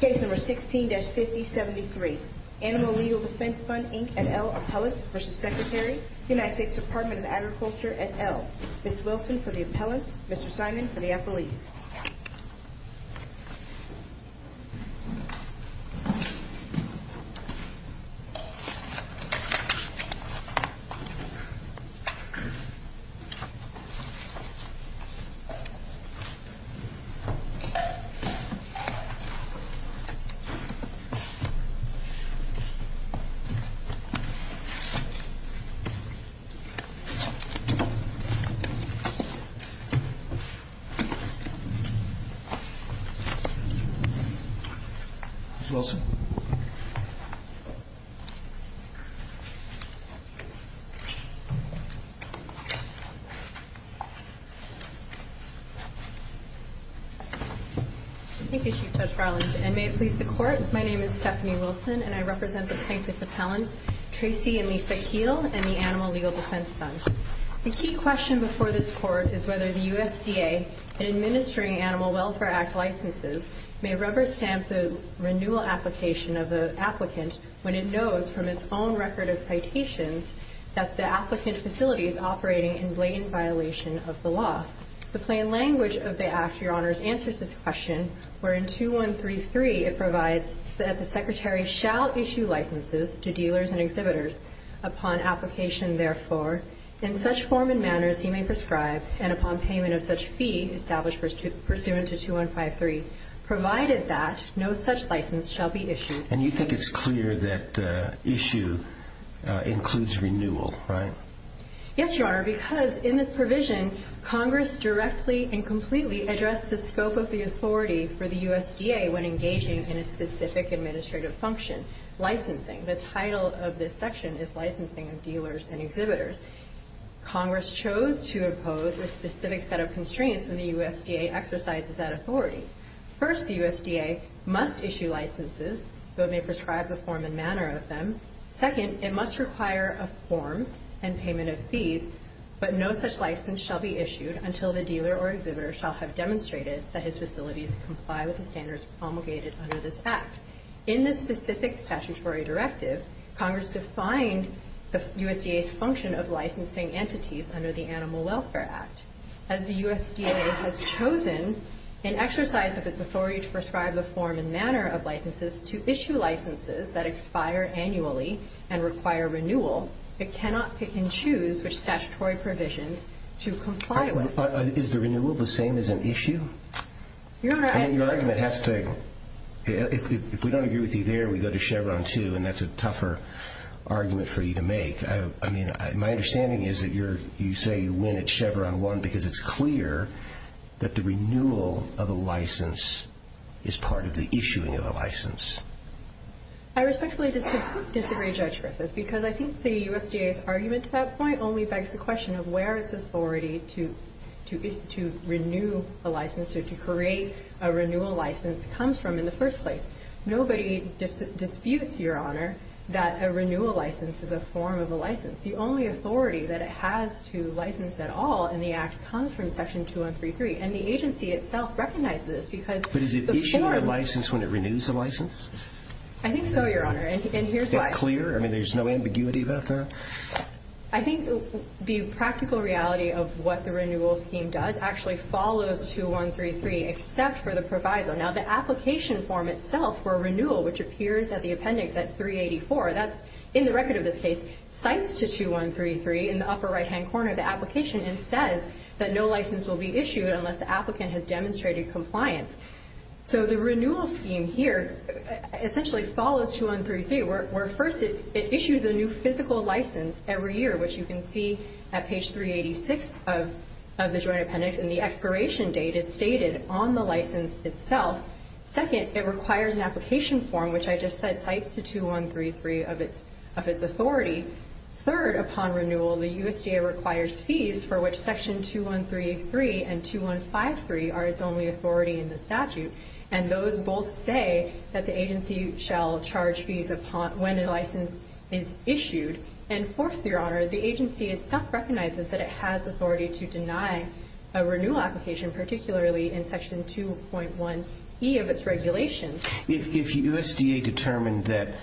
Case No. 16-5073 Animal Legal Defense Fund, Inc. et al. Appellants v. Secretary, United States Department of Agriculture et al. Ms. Wilson for the appellants, Mr. Simon for the appellees Ms. Wilson Thank you, Chief Judge Garland, and may it please the Court, my name is Stephanie Wilson, and I represent the plaintiff appellants, Tracy and Lisa Keel, and the Animal Legal Defense Fund. The key question before this Court is whether the USDA in administering Animal Welfare Act licenses may rubber stamp the renewal application of the applicant when it knows from its own record of citations that the applicant facility is operating in blatant violation of the law. The plain language of the Act, Your Honors, answers this question, wherein 2133 it provides that the Secretary shall issue licenses to dealers and exhibitors upon application, therefore, in such form and manners he may prescribe, and upon payment of such fee established pursuant to 2153, provided that no such license shall be issued. And you think it's clear that the issue includes renewal, right? Yes, Your Honor, because in this provision, Congress directly and completely addressed the scope of the authority for the USDA when engaging in a specific administrative function, licensing. The title of this section is licensing of dealers and exhibitors. Congress chose to impose a specific set of constraints when the USDA exercises that authority. First, the USDA must issue licenses, though it may prescribe the form and manner of them. Second, it must require a form and payment of fees, but no such license shall be issued until the dealer or exhibitor shall have demonstrated that his facilities comply with the standards promulgated under this Act. In this specific statutory directive, Congress defined the USDA's function of licensing entities under the Animal Welfare Act. As the USDA has chosen, in exercise of its authority to prescribe the form and manner of licenses, to issue licenses that expire annually and require renewal, it cannot pick and choose which statutory provisions to comply with. Is the renewal the same as an issue? Your Honor, I... I mean, your argument has to... If we don't agree with you there, we go to Chevron 2, and that's a tougher argument for you to make. I mean, my understanding is that you're... You say you win at Chevron 1 because it's clear that the renewal of a license is part of the issuing of a license. I respectfully disagree, Judge Griffith, because I think the USDA's argument to that point only begs the question of where its authority to renew a license or to create a renewal license comes from in the first place. Nobody disputes, Your Honor, that a renewal license is a form of a license. The only authority that it has to license at all in the Act comes from Section 2133, and the agency itself recognizes this because the form... But is it issuing a license when it renews a license? I think so, Your Honor, and here's why. It's clear? I mean, there's no ambiguity about that? I think the practical reality of what the renewal scheme does actually follows 2133, except for the proviso. Now, the application form itself for renewal, which appears at the appendix at 384, that's in the record of this case, cites to 2133 in the upper right-hand corner of the application and says that no license will be issued unless the applicant has demonstrated compliance. So the renewal scheme here essentially follows 2133, where first it issues a new physical license every year, which you can see at page 386 of the Joint Appendix, and the expiration date is stated on the license itself. Second, it requires an application form, which I just said cites to 2133 of its authority. Third, upon renewal, the USDA requires fees for which Section 2133 and 2153 are its only authority in the statute, and those both say that the agency shall charge fees upon when a license is issued. And fourth, Your Honor, the agency itself recognizes that it has authority to deny a renewal application, particularly in Section 2.1e of its regulations. If USDA determined that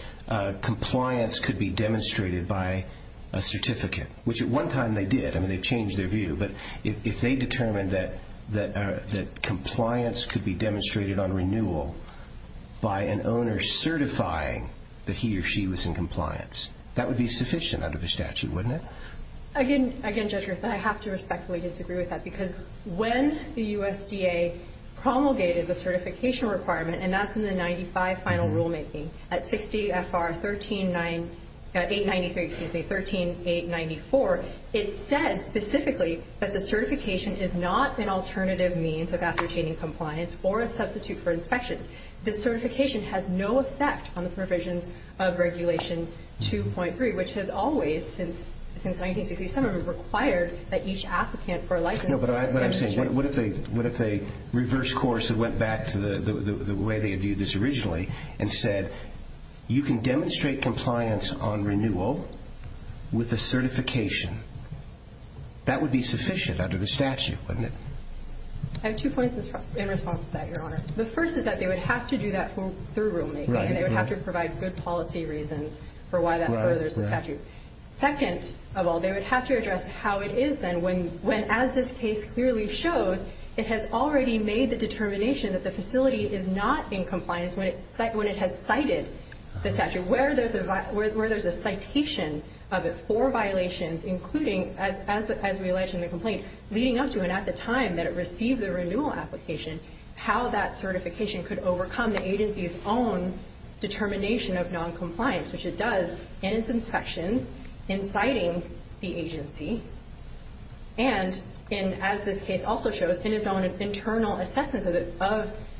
compliance could be demonstrated by a certificate, which at one time they did. I mean, they changed their view. But if they determined that compliance could be demonstrated on renewal by an owner certifying that he or she was in compliance, that would be sufficient under the statute, wouldn't it? Again, Judge Griffith, I have to respectfully disagree with that because when the USDA promulgated the certification requirement, and that's in the 95 final rulemaking at 60 FR 893, excuse me, 13894, it said specifically that the certification is not an alternative means of ascertaining compliance or a substitute for inspection. The certification has no effect on the provisions of Regulation 2.3, which has always, since 1967, required that each applicant for a license be demonstrated. No, but what I'm saying, what if they reversed course and went back to the way they had viewed this originally and said you can demonstrate compliance on renewal with a certification? That would be sufficient under the statute, wouldn't it? I have two points in response to that, Your Honor. The first is that they would have to do that through rulemaking, and they would have to provide good policy reasons for why that furthers the statute. Second of all, they would have to address how it is then when, as this case clearly shows, it has already made the determination that the facility is not in compliance when it has cited the statute, where there's a citation of it for violations, including, as we allege in the complaint, leading up to and at the time that it received the renewal application, how that certification could overcome the agency's own determination of noncompliance, which it does in its inspections, in citing the agency, and, as this case also shows, in its own internal assessments of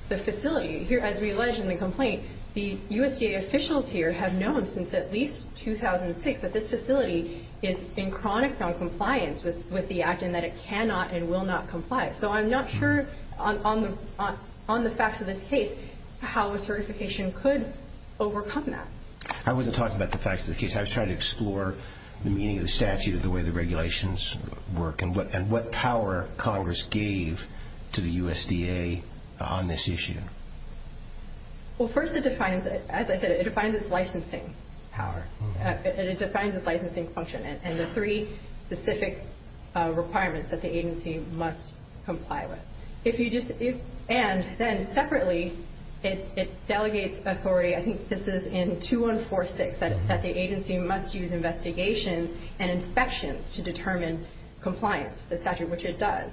the facility. Here, as we allege in the complaint, the USDA officials here have known since at least 2006 that this facility is in chronic noncompliance with the act and that it cannot and will not comply. So I'm not sure, on the facts of this case, how a certification could overcome that. I wasn't talking about the facts of the case. I was trying to explore the meaning of the statute, the way the regulations work, and what power Congress gave to the USDA on this issue. Well, first it defines, as I said, it defines its licensing power. It defines its licensing function and the three specific requirements that the agency must comply with. And then, separately, it delegates authority. I think this is in 2146, that the agency must use investigations and inspections to determine compliance, the statute, which it does.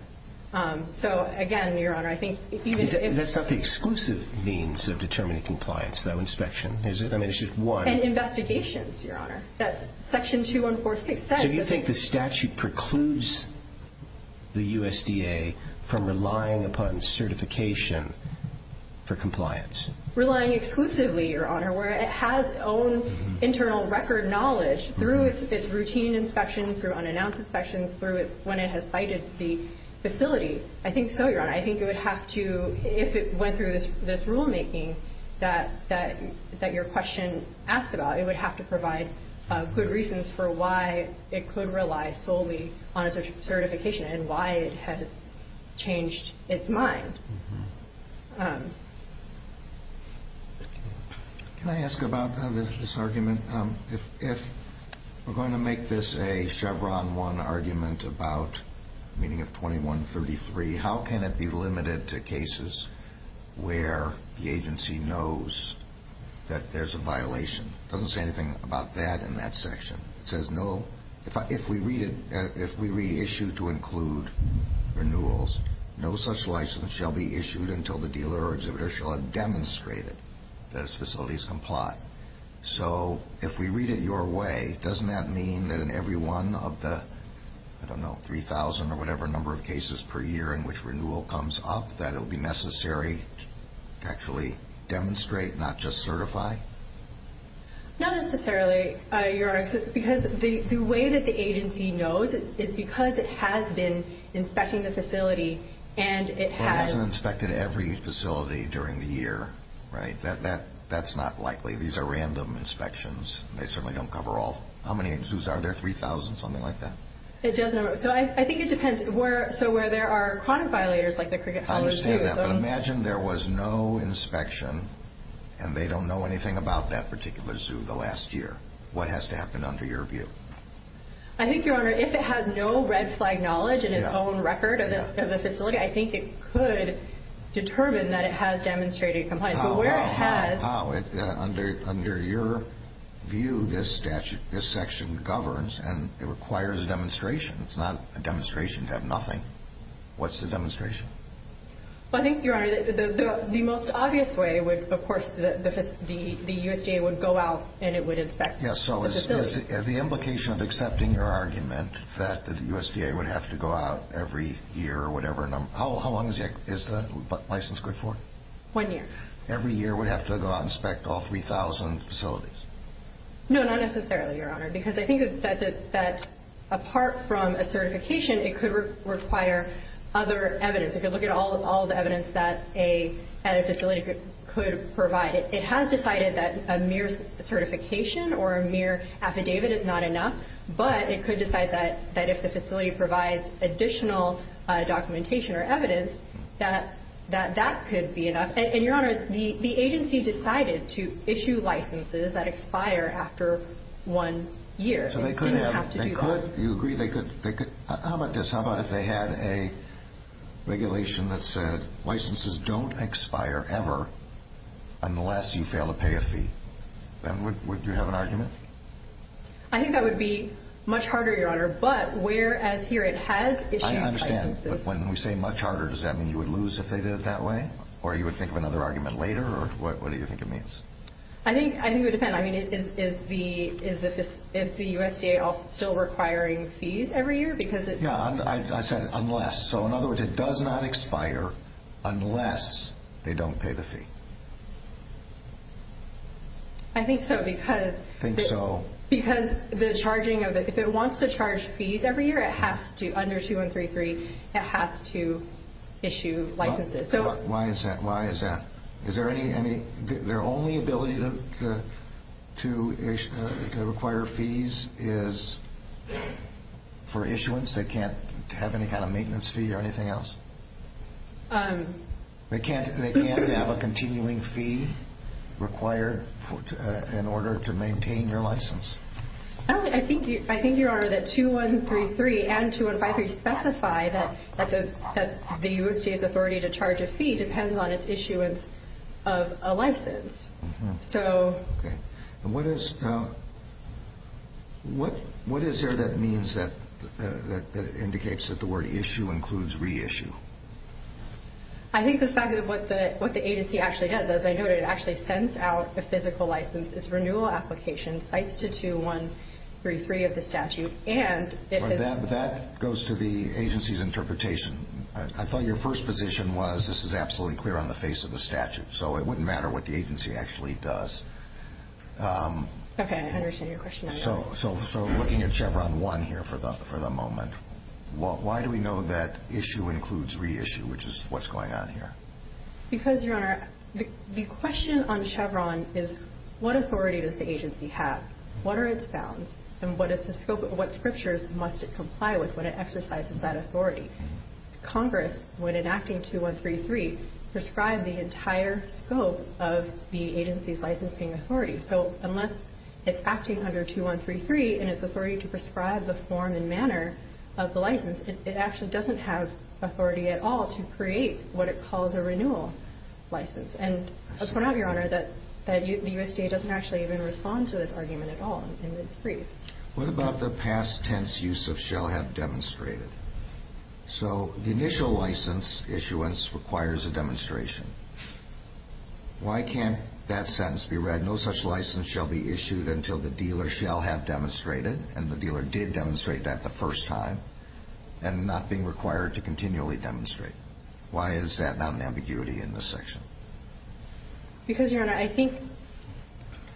So, again, Your Honor, I think if you could... That's not the exclusive means of determining compliance, though, inspection, is it? I mean, it's just one. And investigations, Your Honor, that Section 2146 says. So you think the statute precludes the USDA from relying upon certification for compliance? Relying exclusively, Your Honor, where it has its own internal record knowledge, through its routine inspections, through unannounced inspections, through when it has cited the facility. I think so, Your Honor. I think it would have to, if it went through this rulemaking that your question asked about, it would have to provide good reasons for why it could rely solely on certification and why it has changed its mind. Can I ask about this argument? If we're going to make this a Chevron 1 argument about a meeting of 2133, how can it be limited to cases where the agency knows that there's a violation? It doesn't say anything about that in that section. It says, no, if we read it, if we read issue to include renewals, no such license shall be issued until the dealer or exhibitor shall have demonstrated that its facilities comply. So if we read it your way, doesn't that mean that in every one of the, I don't know, 3,000 or whatever number of cases per year in which renewal comes up, that it would be necessary to actually demonstrate, not just certify? Not necessarily, Your Honor, because the way that the agency knows is because it has been inspecting the facility and it has. But it hasn't inspected every facility during the year, right? That's not likely. These are random inspections. They certainly don't cover all. How many zoos are there, 3,000, something like that? It doesn't. So I think it depends. So where there are chronic violators, like the Cricket Hall Zoo. I understand that, but imagine there was no inspection and they don't know anything about that particular zoo the last year. What has to happen under your view? I think, Your Honor, if it has no red flag knowledge in its own record of the facility, I think it could determine that it has demonstrated it complies. How, under your view, this statute, this section governs and it requires a demonstration. It's not a demonstration to have nothing. What's the demonstration? I think, Your Honor, the most obvious way would, of course, the USDA would go out and it would inspect the facility. Yes, so is the implication of accepting your argument that the USDA would have to go out every year or whatever number? How long is the license good for? One year. Every year it would have to go out and inspect all 3,000 facilities? No, not necessarily, Your Honor, because I think that apart from a certification, it could require other evidence. It could look at all the evidence that a facility could provide. It has decided that a mere certification or a mere affidavit is not enough, that that could be enough. And, Your Honor, the agency decided to issue licenses that expire after one year. So they couldn't have to do that? They could. You agree they could. How about this? How about if they had a regulation that said licenses don't expire ever unless you fail to pay a fee? Then would you have an argument? I think that would be much harder, Your Honor. But whereas here it has issued licenses. But when we say much harder, does that mean you would lose if they did it that way? Or you would think of another argument later? Or what do you think it means? I think it would depend. I mean, is the USDA still requiring fees every year? Yeah, I said unless. So, in other words, it does not expire unless they don't pay the fee. I think so because the charging of it, if it wants to charge fees every year, under 2133, it has to issue licenses. Why is that? Is there any, their only ability to require fees is for issuance? They can't have any kind of maintenance fee or anything else? They can't have a continuing fee required in order to maintain your license? I think, Your Honor, that 2133 and 2153 specify that the USDA's authority to charge a fee depends on its issuance of a license. What is there that indicates that the word issue includes reissue? I think the fact that what the agency actually does, as I noted, actually sends out a physical license. It's a renewal application, cites to 2133 of the statute, and it has... But that goes to the agency's interpretation. I thought your first position was this is absolutely clear on the face of the statute, so it wouldn't matter what the agency actually does. Okay, I understand your question. So, looking at Chevron 1 here for the moment, why do we know that issue includes reissue, which is what's going on here? Because, Your Honor, the question on Chevron is what authority does the agency have? What are its bounds? And what is the scope of what scriptures must it comply with when it exercises that authority? Congress, when enacting 2133, prescribed the entire scope of the agency's licensing authority. So, unless it's acting under 2133 and its authority to prescribe the form and manner of the license, it actually doesn't have authority at all to create what it calls a renewal license. And I'll point out, Your Honor, that the USDA doesn't actually even respond to this argument at all in its brief. What about the past tense use of shall have demonstrated? So, the initial license issuance requires a demonstration. Why can't that sentence be read, no such license shall be issued until the dealer shall have demonstrated, and the dealer did demonstrate that the first time, and not being required to continually demonstrate? Why is that not an ambiguity in this section? Because, Your Honor, I think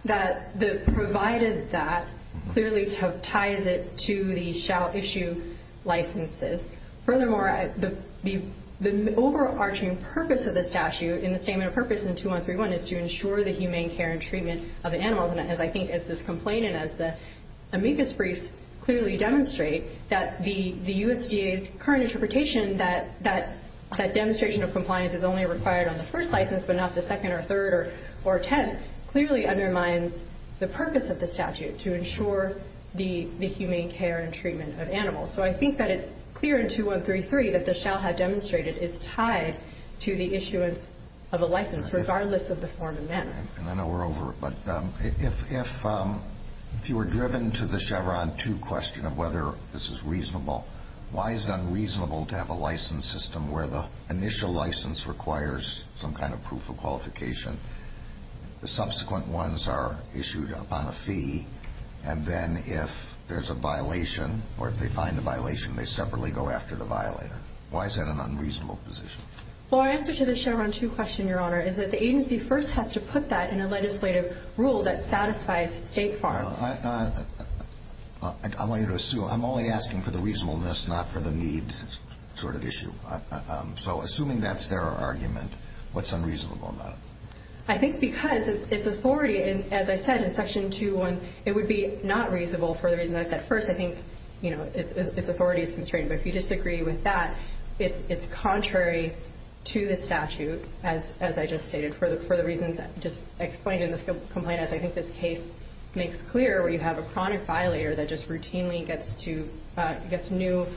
that the provided that clearly ties it to the shall issue licenses. Furthermore, the overarching purpose of the statute in the statement of purpose in 2131 is to ensure the humane care and treatment of animals. And as I think as this complaint and as the amicus briefs clearly demonstrate, that the USDA's current interpretation that demonstration of compliance is only required on the first license, but not the second or third or tenth, clearly undermines the purpose of the statute to ensure the humane care and treatment of animals. So, I think that it's clear in 2133 that the shall have demonstrated is tied to the issuance of a license, regardless of the form and manner. And I know we're over, but if you were driven to the Chevron 2 question of whether this is reasonable, why is it unreasonable to have a license system where the initial license requires some kind of proof of qualification, the subsequent ones are issued upon a fee, and then if there's a violation, or if they find a violation, they separately go after the violator. Why is that an unreasonable position? Well, our answer to the Chevron 2 question, Your Honor, is that the agency first has to put that in a legislative rule that satisfies state farm. All right. I want you to assume, I'm only asking for the reasonableness, not for the need sort of issue. So, assuming that's their argument, what's unreasonable about it? I think because it's authority, and as I said in Section 2, it would be not reasonable for the reason I said first. I think, you know, its authority is constrained. But if you disagree with that, it's contrary to the statute, as I just stated, for the reasons just explained in this complaint, as I think this case makes clear where you have a chronic violator that just routinely gets new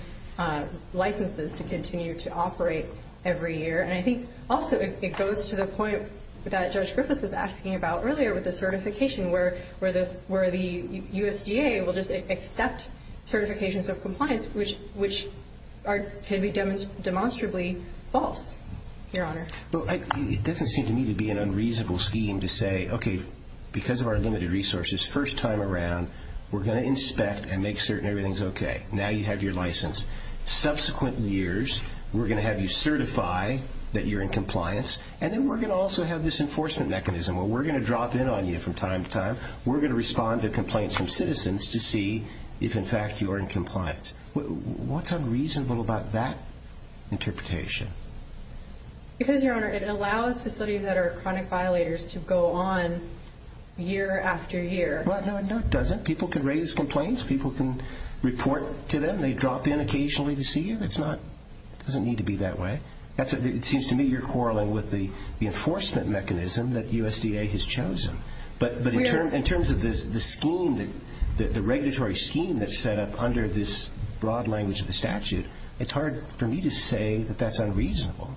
licenses to continue to operate every year. And I think also it goes to the point that Judge Griffith was asking about earlier with the certification, where the USDA will just accept certifications of compliance, which can be demonstrably false, Your Honor. Well, it doesn't seem to me to be an unreasonable scheme to say, okay, because of our limited resources, first time around, we're going to inspect and make certain everything's okay. Now you have your license. Subsequent years, we're going to have you certify that you're in compliance, and then we're going to also have this enforcement mechanism where we're going to drop in on you from time to time. We're going to respond to complaints from citizens to see if, in fact, you are in compliance. What's unreasonable about that interpretation? Because, Your Honor, it allows facilities that are chronic violators to go on year after year. No, it doesn't. People can raise complaints. People can report to them. They drop in occasionally to see you. It doesn't need to be that way. It seems to me you're quarreling with the enforcement mechanism that USDA has chosen. But in terms of the scheme, the regulatory scheme that's set up under this broad language of the statute, it's hard for me to say that that's unreasonable.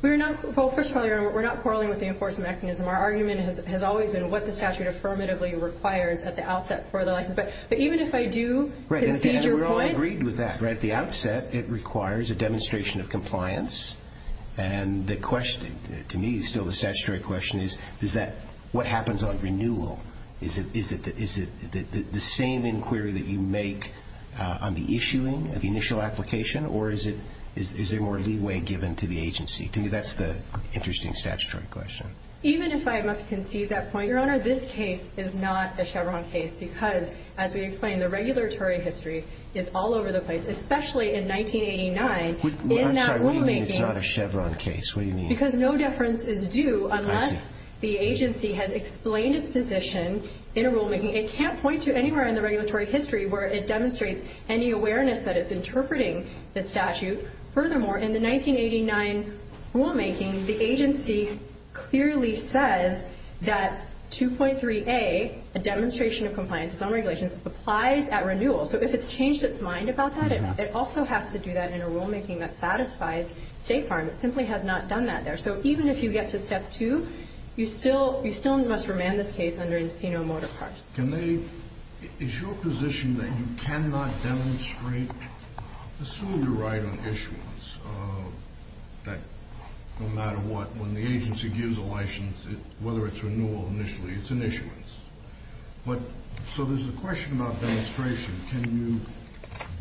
Well, first of all, Your Honor, we're not quarreling with the enforcement mechanism. Our argument has always been what the statute affirmatively requires at the outset for the license. But even if I do concede your point. Right, and we're all agreed with that. At the outset, it requires a demonstration of compliance. And the question, to me, still the statutory question is, is that what happens on renewal? Is it the same inquiry that you make on the issuing of the initial application? Or is there more leeway given to the agency? To me, that's the interesting statutory question. Even if I must concede that point, Your Honor, this case is not a Chevron case because, as we explained, the regulatory history is all over the place, especially in 1989. I'm sorry, what do you mean it's not a Chevron case? Because no deference is due unless the agency has explained its position in a rulemaking. It can't point to anywhere in the regulatory history where it demonstrates any awareness that it's interpreting the statute. Furthermore, in the 1989 rulemaking, the agency clearly says that 2.3a, a demonstration of compliance on regulations, applies at renewal. So if it's changed its mind about that, it also has to do that in a rulemaking that satisfies State Farm. It simply has not done that there. So even if you get to Step 2, you still must remand this case under Encino-Mortar Parts. Is your position that you cannot demonstrate, assume you're right on issuance, that no matter what, when the agency gives a license, whether it's renewal initially, it's an issuance? So there's a question about demonstration. Can you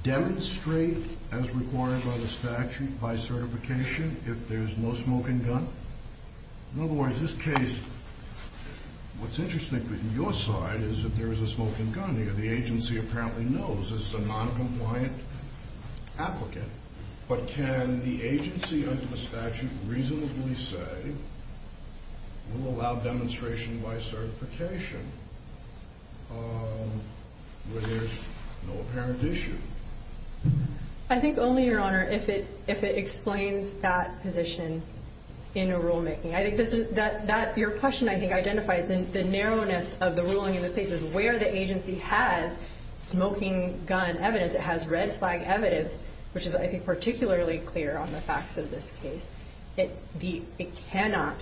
demonstrate as required by the statute, by certification, if there's no smoking gun? In other words, this case, what's interesting from your side is that there is a smoking gun here. The agency apparently knows this is a noncompliant applicant. But can the agency under the statute reasonably say we'll allow demonstration by certification where there's no apparent issue? I think only, Your Honor, if it explains that position in a rulemaking. I think your question, I think, identifies the narrowness of the ruling in this case, is where the agency has smoking gun evidence. It has red flag evidence, which is, I think, particularly clear on the facts of this case. It cannot,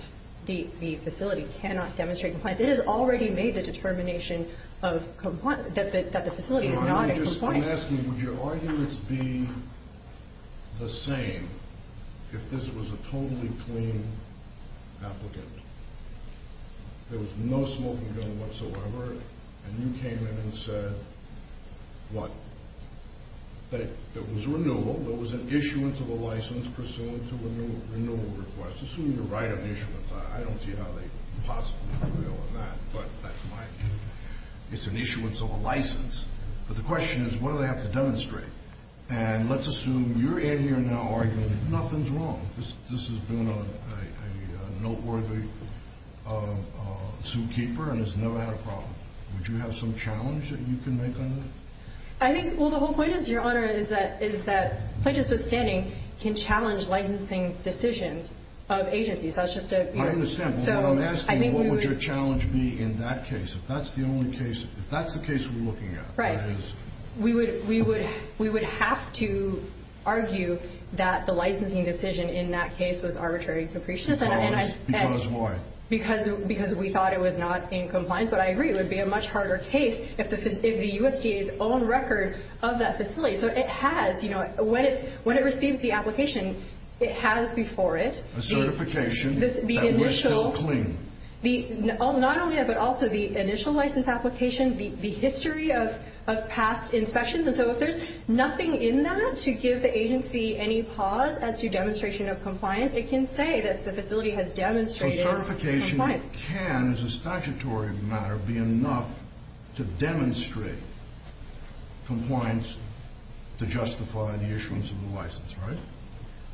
the facility cannot demonstrate compliance. It has already made the determination that the facility is not in compliance. Your Honor, I'm asking, would your arguments be the same if this was a totally clean applicant? There was no smoking gun whatsoever, and you came in and said, what? It was a renewal. There was an issuance of a license pursuant to a renewal request. Assume you're right on issuance. I don't see how they could possibly prevail on that, but that's my view. It's an issuance of a license. But the question is, what do they have to demonstrate? And let's assume you're in here now arguing nothing's wrong. This has been a noteworthy suit keeper and has never had a problem. Would you have some challenge that you can make on that? I think, well, the whole point is, Your Honor, is that Plaintiffs Withstanding can challenge licensing decisions of agencies. I understand, but what I'm asking, what would your challenge be in that case? If that's the only case, if that's the case we're looking at. Right. We would have to argue that the licensing decision in that case was arbitrary and capricious. Because why? Because we thought it was not in compliance. But I agree it would be a much harder case if the USDA's own record of that facility. So it has, you know, when it receives the application, it has before it. A certification that was still clean. Not only that, but also the initial license application, the history of past inspections. And so if there's nothing in that to give the agency any pause as to demonstration of compliance, it can say that the facility has demonstrated compliance. So certification can, as a statutory matter, be enough to demonstrate compliance to justify the issuance of the license, right?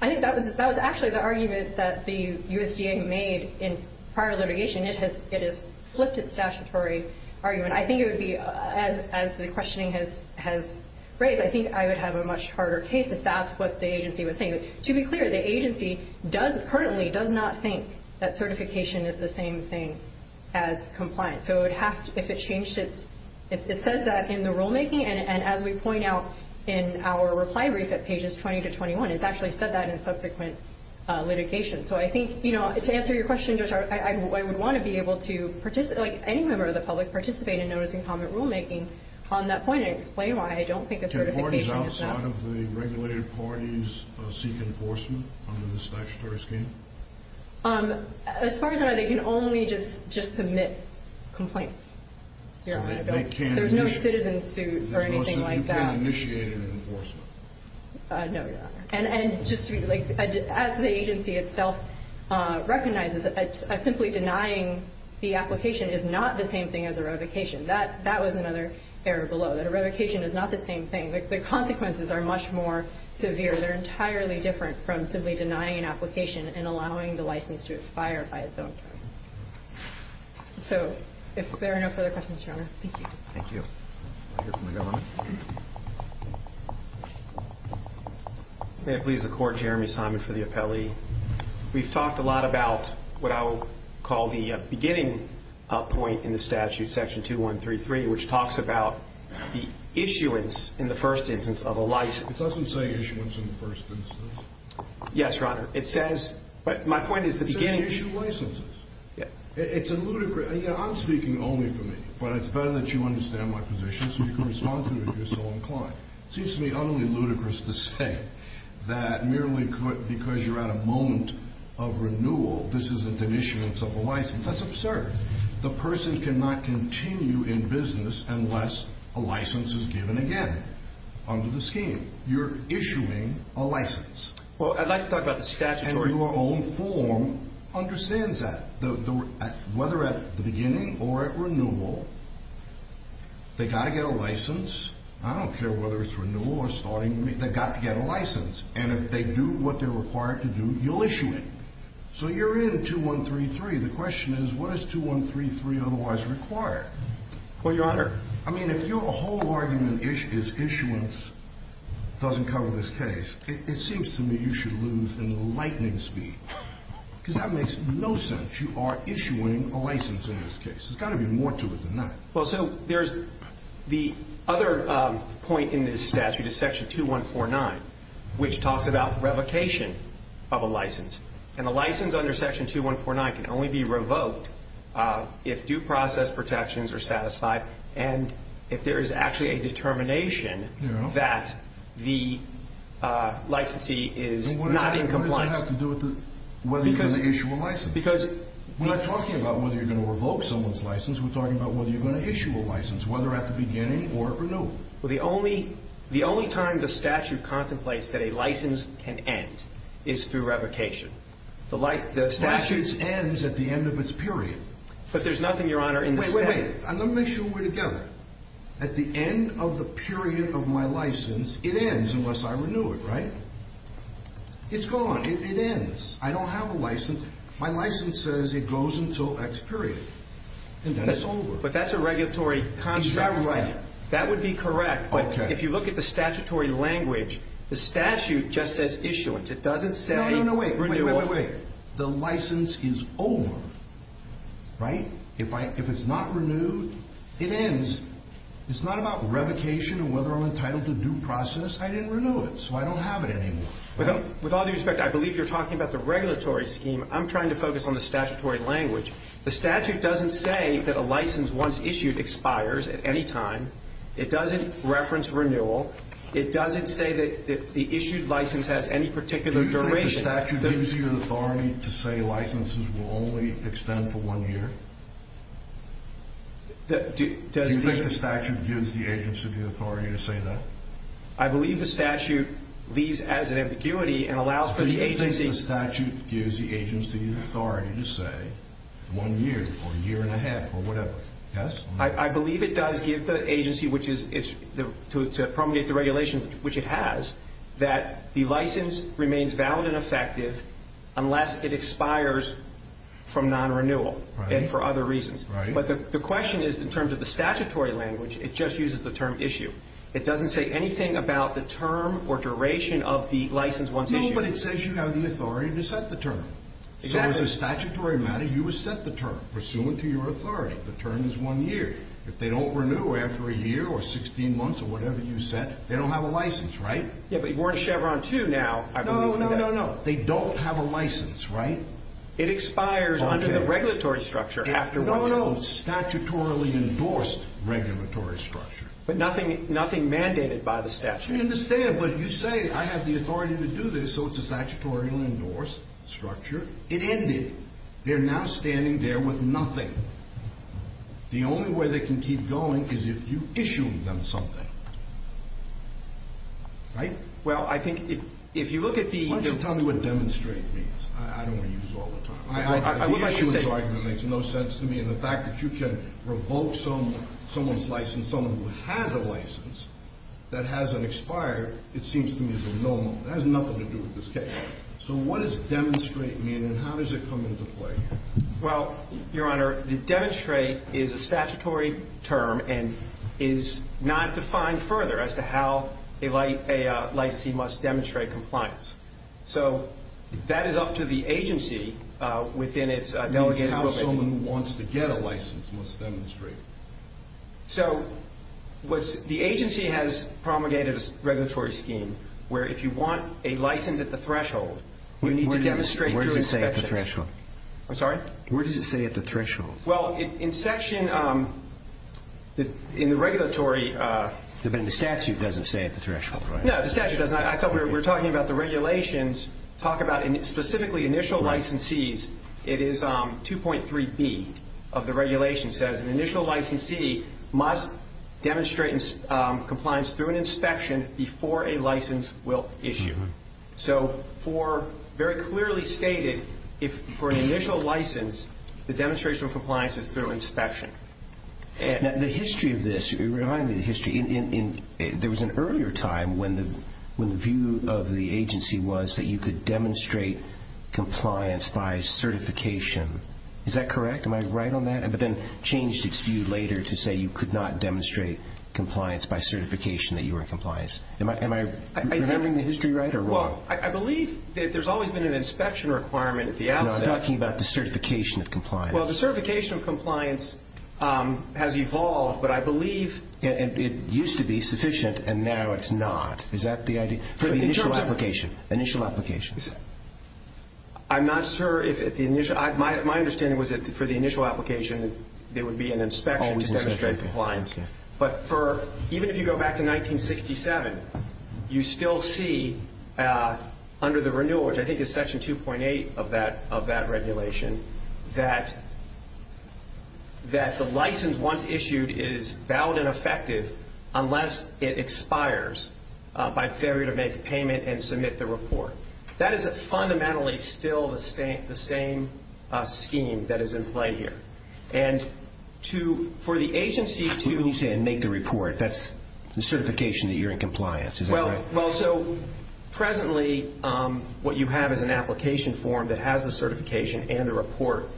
I think that was actually the argument that the USDA made in prior litigation. It has flipped its statutory argument. I think it would be, as the questioning has raised, I think I would have a much harder case if that's what the agency was saying. To be clear, the agency currently does not think that certification is the same thing as compliance. So it would have to, if it changed its, it says that in the rulemaking. And as we point out in our reply brief at pages 20 to 21, it's actually said that in subsequent litigation. So I think, you know, to answer your question, Judge, I would want to be able to participate, like any member of the public, participate in notice and comment rulemaking on that point and explain why I don't think a certification is enough. Do parties outside of the regulated parties seek enforcement under the statutory scheme? As far as I know, they can only just submit complaints. There's no citizen suit or anything like that. You can't initiate an enforcement. No, Your Honor. And just as the agency itself recognizes, simply denying the application is not the same thing as a revocation. That was another error below, that a revocation is not the same thing. The consequences are much more severe. They're entirely different from simply denying an application and allowing the license to expire by its own terms. So if there are no further questions, Your Honor, thank you. Thank you. I'll hear from the government. May it please the Court, Jeremy Simon for the appellee. We've talked a lot about what I will call the beginning point in the statute, Section 2133, which talks about the issuance in the first instance of a license. It doesn't say issuance in the first instance. Yes, Your Honor. It says, but my point is the beginning. It says issue licenses. It's ludicrous. I'm speaking only for me, but it's better that you understand my position so you can respond to me if you're so inclined. It seems to me utterly ludicrous to say that merely because you're at a moment of renewal, this isn't an issuance of a license. That's absurd. The person cannot continue in business unless a license is given again under the scheme. You're issuing a license. Well, I'd like to talk about the statute. And your own form understands that. Whether at the beginning or at renewal, they've got to get a license. I don't care whether it's renewal or starting. They've got to get a license. And if they do what they're required to do, you'll issue it. So you're in 2133. The question is, what is 2133 otherwise required? Well, Your Honor. I mean, if your whole argument is issuance doesn't cover this case, it seems to me you should lose in lightning speed. Because that makes no sense. You are issuing a license in this case. There's got to be more to it than that. Well, so there's the other point in this statute is Section 2149, which talks about revocation of a license. And a license under Section 2149 can only be revoked if due process protections are satisfied and if there is actually a determination that the licensee is not in compliance. What does that have to do with whether you're going to issue a license? We're not talking about whether you're going to revoke someone's license. We're talking about whether you're going to issue a license, whether at the beginning or at renewal. Well, the only time the statute contemplates that a license can end is through revocation. The statute ends at the end of its period. But there's nothing, Your Honor, in the statute. Wait, wait. Let me make sure we're together. At the end of the period of my license, it ends unless I renew it, right? It's gone. It ends. I don't have a license. My license says it goes until X period, and then it's over. But that's a regulatory construct. Is that right? That would be correct. Okay. But if you look at the statutory language, the statute just says issuance. It doesn't say renewal. No, no, wait, wait, wait, wait, wait. The license is over, right? If it's not renewed, it ends. It's not about revocation or whether I'm entitled to due process. I didn't renew it, so I don't have it anymore. With all due respect, I believe you're talking about the regulatory scheme. I'm trying to focus on the statutory language. The statute doesn't say that a license, once issued, expires at any time. It doesn't reference renewal. It doesn't say that the issued license has any particular duration. Do you think the statute gives you the authority to say licenses will only extend for one year? Do you think the statute gives the agency the authority to say that? I believe the statute leaves as an ambiguity and allows for the agency. Do you think the statute gives the agency the authority to say one year or a year and a half or whatever? Yes? I believe it does give the agency, to promulgate the regulations, which it has, that the license remains valid and effective unless it expires from non-renewal and for other reasons. But the question is, in terms of the statutory language, it just uses the term issue. It doesn't say anything about the term or duration of the license once issued. No, but it says you have the authority to set the term. So as a statutory matter, you would set the term, pursuant to your authority. The term is one year. If they don't renew after a year or 16 months or whatever you set, they don't have a license, right? Yeah, but you're wearing a Chevron 2 now. No, no, no, no. They don't have a license, right? It expires under the regulatory structure after one year. No, no. Statutorily endorsed regulatory structure. But nothing mandated by the statute. I understand. But you say I have the authority to do this, so it's a statutorily endorsed structure. It ended. They're now standing there with nothing. The only way they can keep going is if you issue them something, right? Well, I think if you look at the ---- Why don't you tell me what demonstrate means? I don't want to use it all the time. The issuance argument makes no sense to me. And the fact that you can revoke someone's license, someone who has a license that hasn't expired, it seems to me is a no-no. It has nothing to do with this case. So what does demonstrate mean and how does it come into play? Well, Your Honor, demonstrate is a statutory term and is not defined further as to how a licensee must demonstrate compliance. So that is up to the agency within its delegated ---- Someone who wants to get a license must demonstrate. So the agency has promulgated a regulatory scheme where if you want a license at the threshold, you need to demonstrate through inspections. Where does it say at the threshold? I'm sorry? Where does it say at the threshold? Well, in section ---- in the regulatory ---- But the statute doesn't say at the threshold, right? No, the statute doesn't. I thought we were talking about the regulations talk about specifically initial licensees. It is 2.3B of the regulation. It says an initial licensee must demonstrate compliance through an inspection before a license will issue. So for very clearly stated, for an initial license, the demonstration of compliance is through inspection. The history of this, remind me of the history. There was an earlier time when the view of the agency was that you could demonstrate compliance by certification. Is that correct? Am I right on that? But then changed its view later to say you could not demonstrate compliance by certification that you were in compliance. Am I remembering the history right or wrong? Well, I believe that there's always been an inspection requirement at the outset. No, I'm talking about the certification of compliance. Well, the certification of compliance has evolved, but I believe ---- It used to be sufficient, and now it's not. Is that the idea? For the initial application. In terms of ---- Initial applications. I'm not sure if the initial ---- My understanding was that for the initial application, there would be an inspection to demonstrate compliance. Always an inspection. But even if you go back to 1967, you still see under the renewal, which I think is Section 2.8 of that regulation, that the license once issued is valid and effective unless it expires by failure to make the payment and submit the report. That is fundamentally still the same scheme that is in play here. And for the agency to ---- What do you mean say make the report? That's the certification that you're in compliance. Is that right? Well, so presently what you have is an application form that has the certification and the report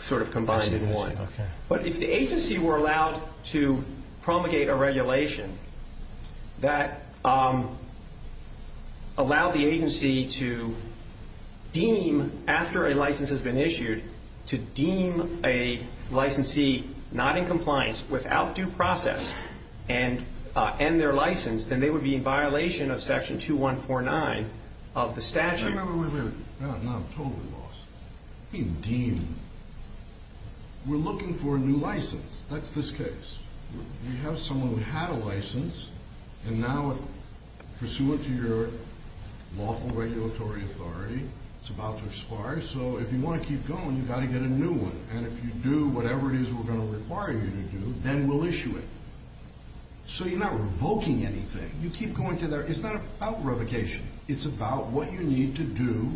sort of combined in one. Okay. But if the agency were allowed to promulgate a regulation that allowed the agency to deem after a license has been issued, to deem a licensee not in compliance without due process and end their license, then they would be in violation of Section 2.149 of the statute. No, no, wait, wait. No, I'm totally lost. What do you mean deem? We're looking for a new license. That's this case. We have someone who had a license, and now pursuant to your lawful regulatory authority, it's about to expire. So if you want to keep going, you've got to get a new one. And if you do whatever it is we're going to require you to do, then we'll issue it. So you're not revoking anything. You keep going to there. It's not about revocation. It's about what you need to do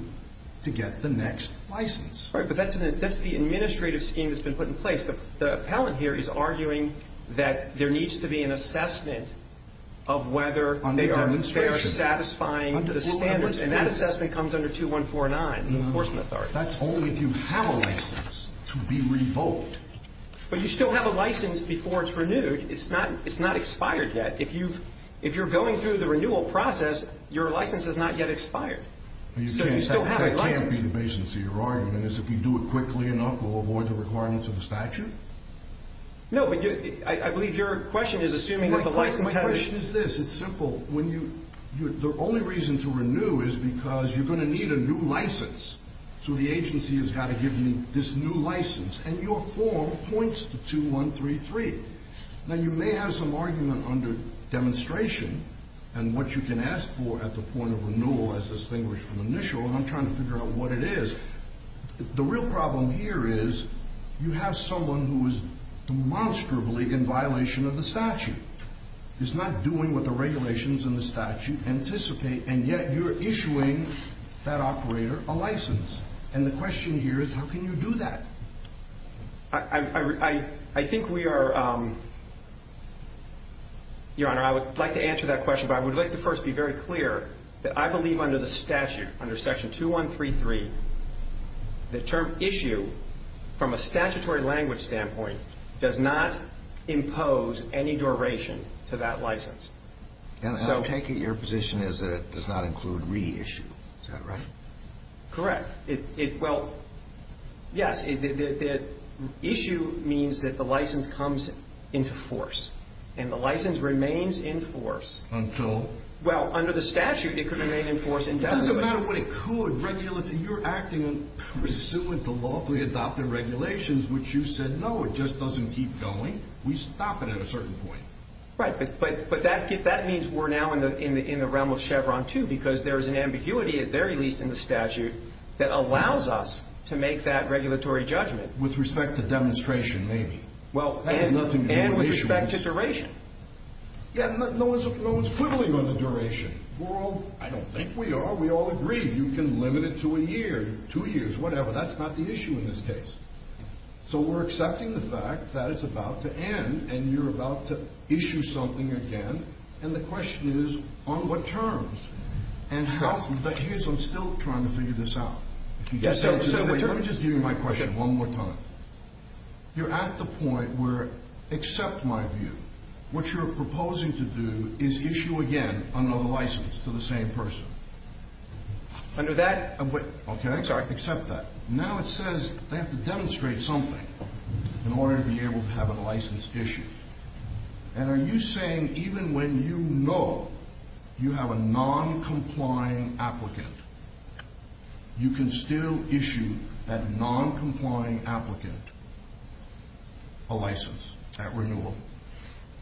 to get the next license. Right, but that's the administrative scheme that's been put in place. The appellant here is arguing that there needs to be an assessment of whether they are satisfying the standards. And that assessment comes under 2149, the enforcement authority. That's only if you have a license to be revoked. But you still have a license before it's renewed. It's not expired yet. If you're going through the renewal process, your license has not yet expired. So you still have a license. That can't be the basis of your argument, is if you do it quickly enough, we'll avoid the requirements of the statute? No, but I believe your question is assuming that the license has a ---- My question is this. It's simple. The only reason to renew is because you're going to need a new license. So the agency has got to give you this new license. And your form points to 2133. Now, you may have some argument under demonstration and what you can ask for at the point of renewal as distinguished from initial. And I'm trying to figure out what it is. The real problem here is you have someone who is demonstrably in violation of the statute. He's not doing what the regulations in the statute anticipate, and yet you're issuing that operator a license. And the question here is how can you do that? I think we are ---- Your Honor, I would like to answer that question, but I would like to first be very clear that I believe under the statute, under Section 2133, the term issue from a statutory language standpoint does not impose any duration to that license. And I take it your position is that it does not include reissue. Is that right? Correct. Well, yes, issue means that the license comes into force, and the license remains in force. Until? Well, under the statute, it could remain in force indefinitely. It doesn't matter what it could. You're acting pursuant to lawfully adopted regulations, which you said, no, it just doesn't keep going. We stop it at a certain point. Right, but that means we're now in the realm of Chevron 2 because there is an ambiguity at the very least in the statute that allows us to make that regulatory judgment. With respect to demonstration, maybe. Well, and with respect to duration. Yeah, no one's quibbling on the duration. We're all ---- I don't think we are. We all agree you can limit it to a year, two years, whatever. That's not the issue in this case. So we're accepting the fact that it's about to end and you're about to issue something again, and the question is, on what terms? And here's, I'm still trying to figure this out. Let me just give you my question one more time. You're at the point where, except my view, what you're proposing to do is issue again another license to the same person. Under that? Okay. I'm sorry. Except that. Now it says they have to demonstrate something in order to be able to have a license issued. And are you saying even when you know you have a non-complying applicant, you can still issue that non-complying applicant a license at renewal?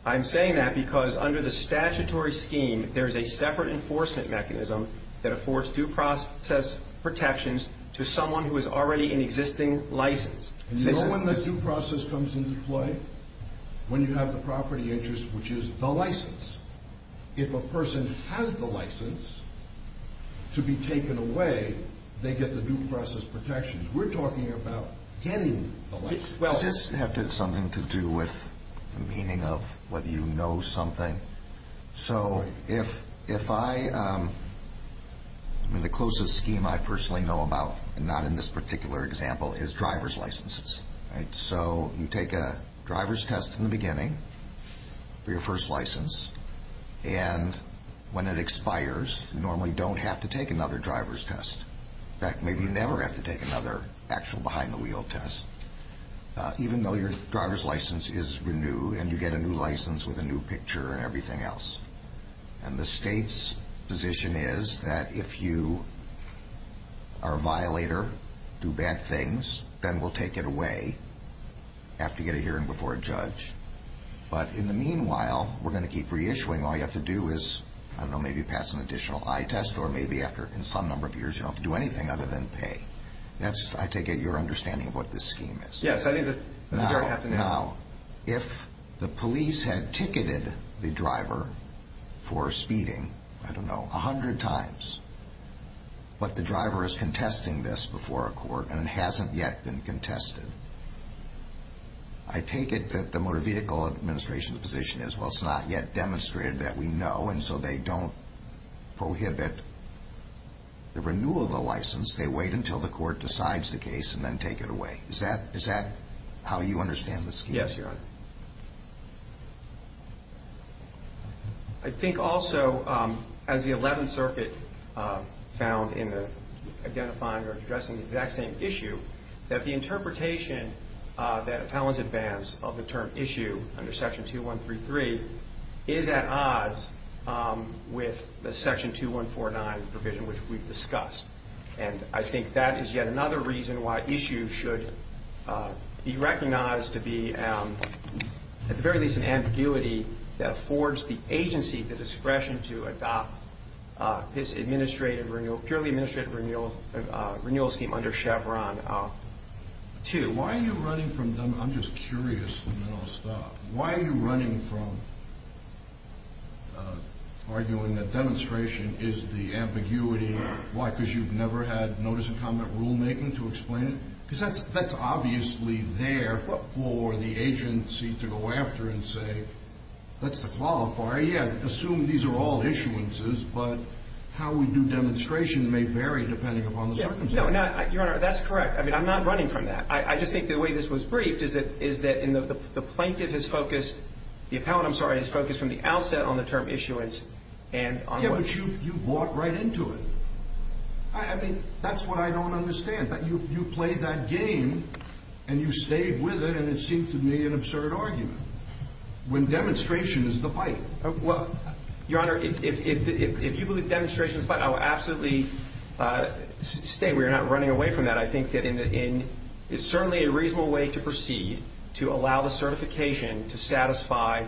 I'm saying that because under the statutory scheme, there is a separate enforcement mechanism that affords due process protections to someone who is already in existing license. And you know when the due process comes into play? When you have the property interest, which is the license. If a person has the license to be taken away, they get the due process protections. We're talking about getting the license. Does this have something to do with the meaning of whether you know something? So if I – the closest scheme I personally know about, and not in this particular example, is driver's licenses. So you take a driver's test in the beginning for your first license, and when it expires, you normally don't have to take another driver's test. In fact, maybe you never have to take another actual behind-the-wheel test. Even though your driver's license is renewed and you get a new license with a new picture and everything else. And the state's position is that if you are a violator, do bad things, then we'll take it away after you get a hearing before a judge. But in the meanwhile, we're going to keep reissuing. All you have to do is, I don't know, maybe pass an additional eye test, or maybe after some number of years you don't have to do anything other than pay. That's, I take it, your understanding of what this scheme is. Yes, I think that's exactly right. Now, if the police had ticketed the driver for speeding, I don't know, a hundred times, but the driver is contesting this before a court and it hasn't yet been contested, I take it that the Motor Vehicle Administration's position is, well, it's not yet demonstrated that we know, and so they don't prohibit the renewal of the license. They wait until the court decides the case and then take it away. Is that how you understand the scheme? Yes, Your Honor. I think also, as the Eleventh Circuit found in identifying or addressing the exact same issue, that the interpretation that appellants advance of the term issue under Section 2133 is at odds with the Section 2149 provision, which we've discussed. And I think that is yet another reason why issues should be recognized to be, at the very least, an ambiguity that affords the agency the discretion to adopt this purely administrative renewal scheme under Chevron 2. I'm just curious, and then I'll stop. Why are you running from arguing that demonstration is the ambiguity? Why? Because you've never had notice and comment rulemaking to explain it? Because that's obviously there for the agency to go after and say, that's the qualifier. Yeah, assume these are all issuances, but how we do demonstration may vary depending upon the circumstances. No, Your Honor, that's correct. I mean, I'm not running from that. I just think the way this was briefed is that the plaintiff has focused, the appellant, I'm sorry, has focused from the outset on the term issuance. Yeah, but you bought right into it. I mean, that's what I don't understand. You played that game, and you stayed with it, and it seems to me an absurd argument, when demonstration is the fight. Your Honor, if you believe demonstration is the fight, I will absolutely stay. Again, we're not running away from that. I think that it's certainly a reasonable way to proceed to allow the certification to satisfy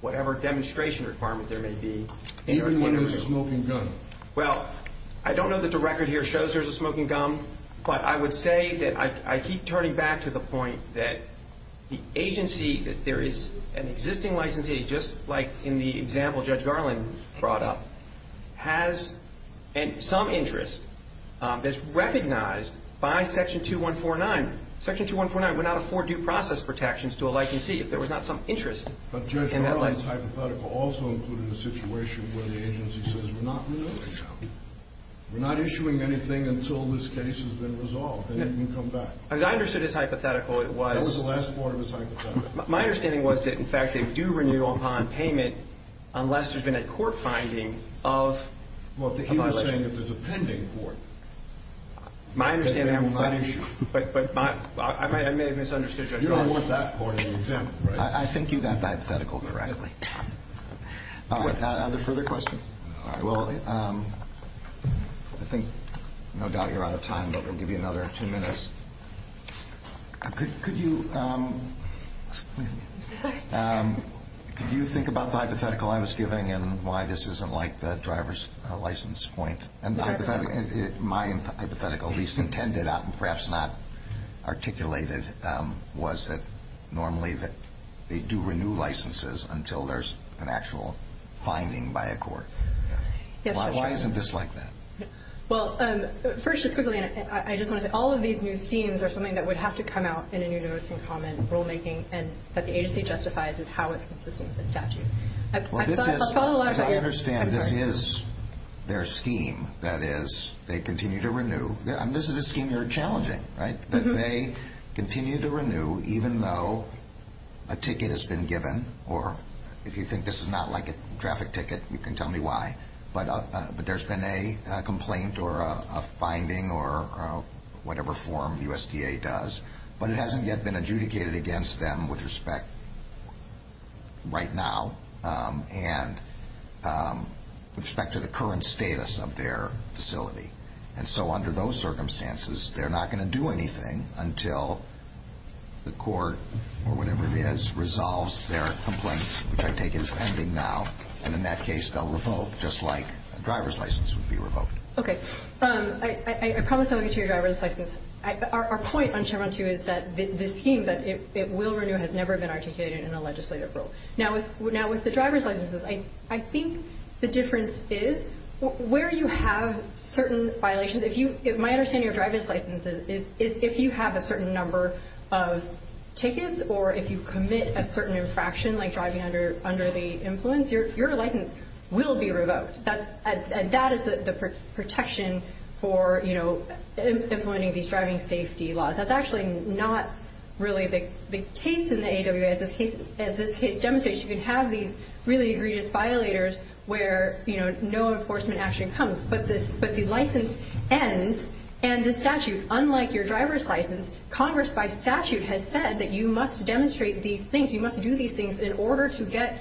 whatever demonstration requirement there may be. Even when there's a smoking gun. Well, I don't know that the record here shows there's a smoking gun, but I would say that I keep turning back to the point that the agency, that there is an existing licensee, just like in the example Judge Garland brought up, has some interest. It's recognized by Section 2149. Section 2149 went out of four due process protections to a licensee if there was not some interest in that license. But Judge Garland's hypothetical also included a situation where the agency says we're not renewing. We're not issuing anything until this case has been resolved, and then you can come back. As I understood his hypothetical, it was. That was the last part of his hypothetical. My understanding was that, in fact, they do renew upon payment unless there's been a court finding of a violation. Well, he was saying that there's a pending court. My understanding, but I may have misunderstood Judge Garland. You don't want that court to be exempt, right? I think you got that hypothetical correctly. Are there further questions? All right, well, I think no doubt you're out of time, but we'll give you another two minutes. Could you think about the hypothetical I was giving and why this isn't like the driver's license point? My hypothetical, at least intended, perhaps not articulated, was that normally they do renew licenses until there's an actual finding by a court. Why isn't this like that? Well, first, just quickly, I just want to say all of these new schemes are something that would have to come out in a new notice and comment rulemaking and that the agency justifies how it's consistent with the statute. As I understand, this is their scheme. That is, they continue to renew. This is a scheme you're challenging, right? That they continue to renew even though a ticket has been given, or if you think this is not like a traffic ticket, you can tell me why. But there's been a complaint or a finding or whatever form USDA does, but it hasn't yet been adjudicated against them with respect right now and with respect to the current status of their facility. And so under those circumstances, they're not going to do anything until the court or whatever it is resolves their complaint, which I take as ending now. And in that case, they'll revoke, just like a driver's license would be revoked. Okay. I promise I won't get to your driver's license. Our point on Chevron 2 is that this scheme, that it will renew, has never been articulated in a legislative rule. Now, with the driver's licenses, I think the difference is where you have certain violations. My understanding of driver's licenses is if you have a certain number of tickets or if you commit a certain infraction, like driving under the influence, your license will be revoked. And that is the protection for, you know, implementing these driving safety laws. That's actually not really the case in the AWA. As this case demonstrates, you can have these really egregious violators where, you know, no enforcement action comes. But the license ends, and the statute, unlike your driver's license, Congress by statute has said that you must demonstrate these things, you must do these things in order to get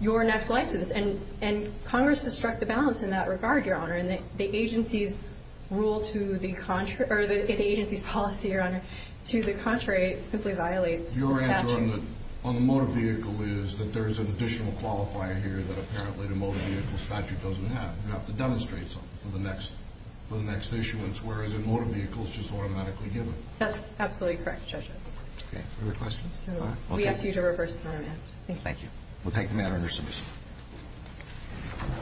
your next license. And Congress has struck the balance in that regard, Your Honor. And the agency's policy, Your Honor, to the contrary, simply violates the statute. Your answer on the motor vehicle is that there is an additional qualifier here that apparently the motor vehicle statute doesn't have. You have to demonstrate something for the next issuance, whereas a motor vehicle is just automatically given. That's absolutely correct, Judge Evans. Okay. Other questions? All right. We ask you to reverse the amendment. Thank you. We'll take the matter under submission.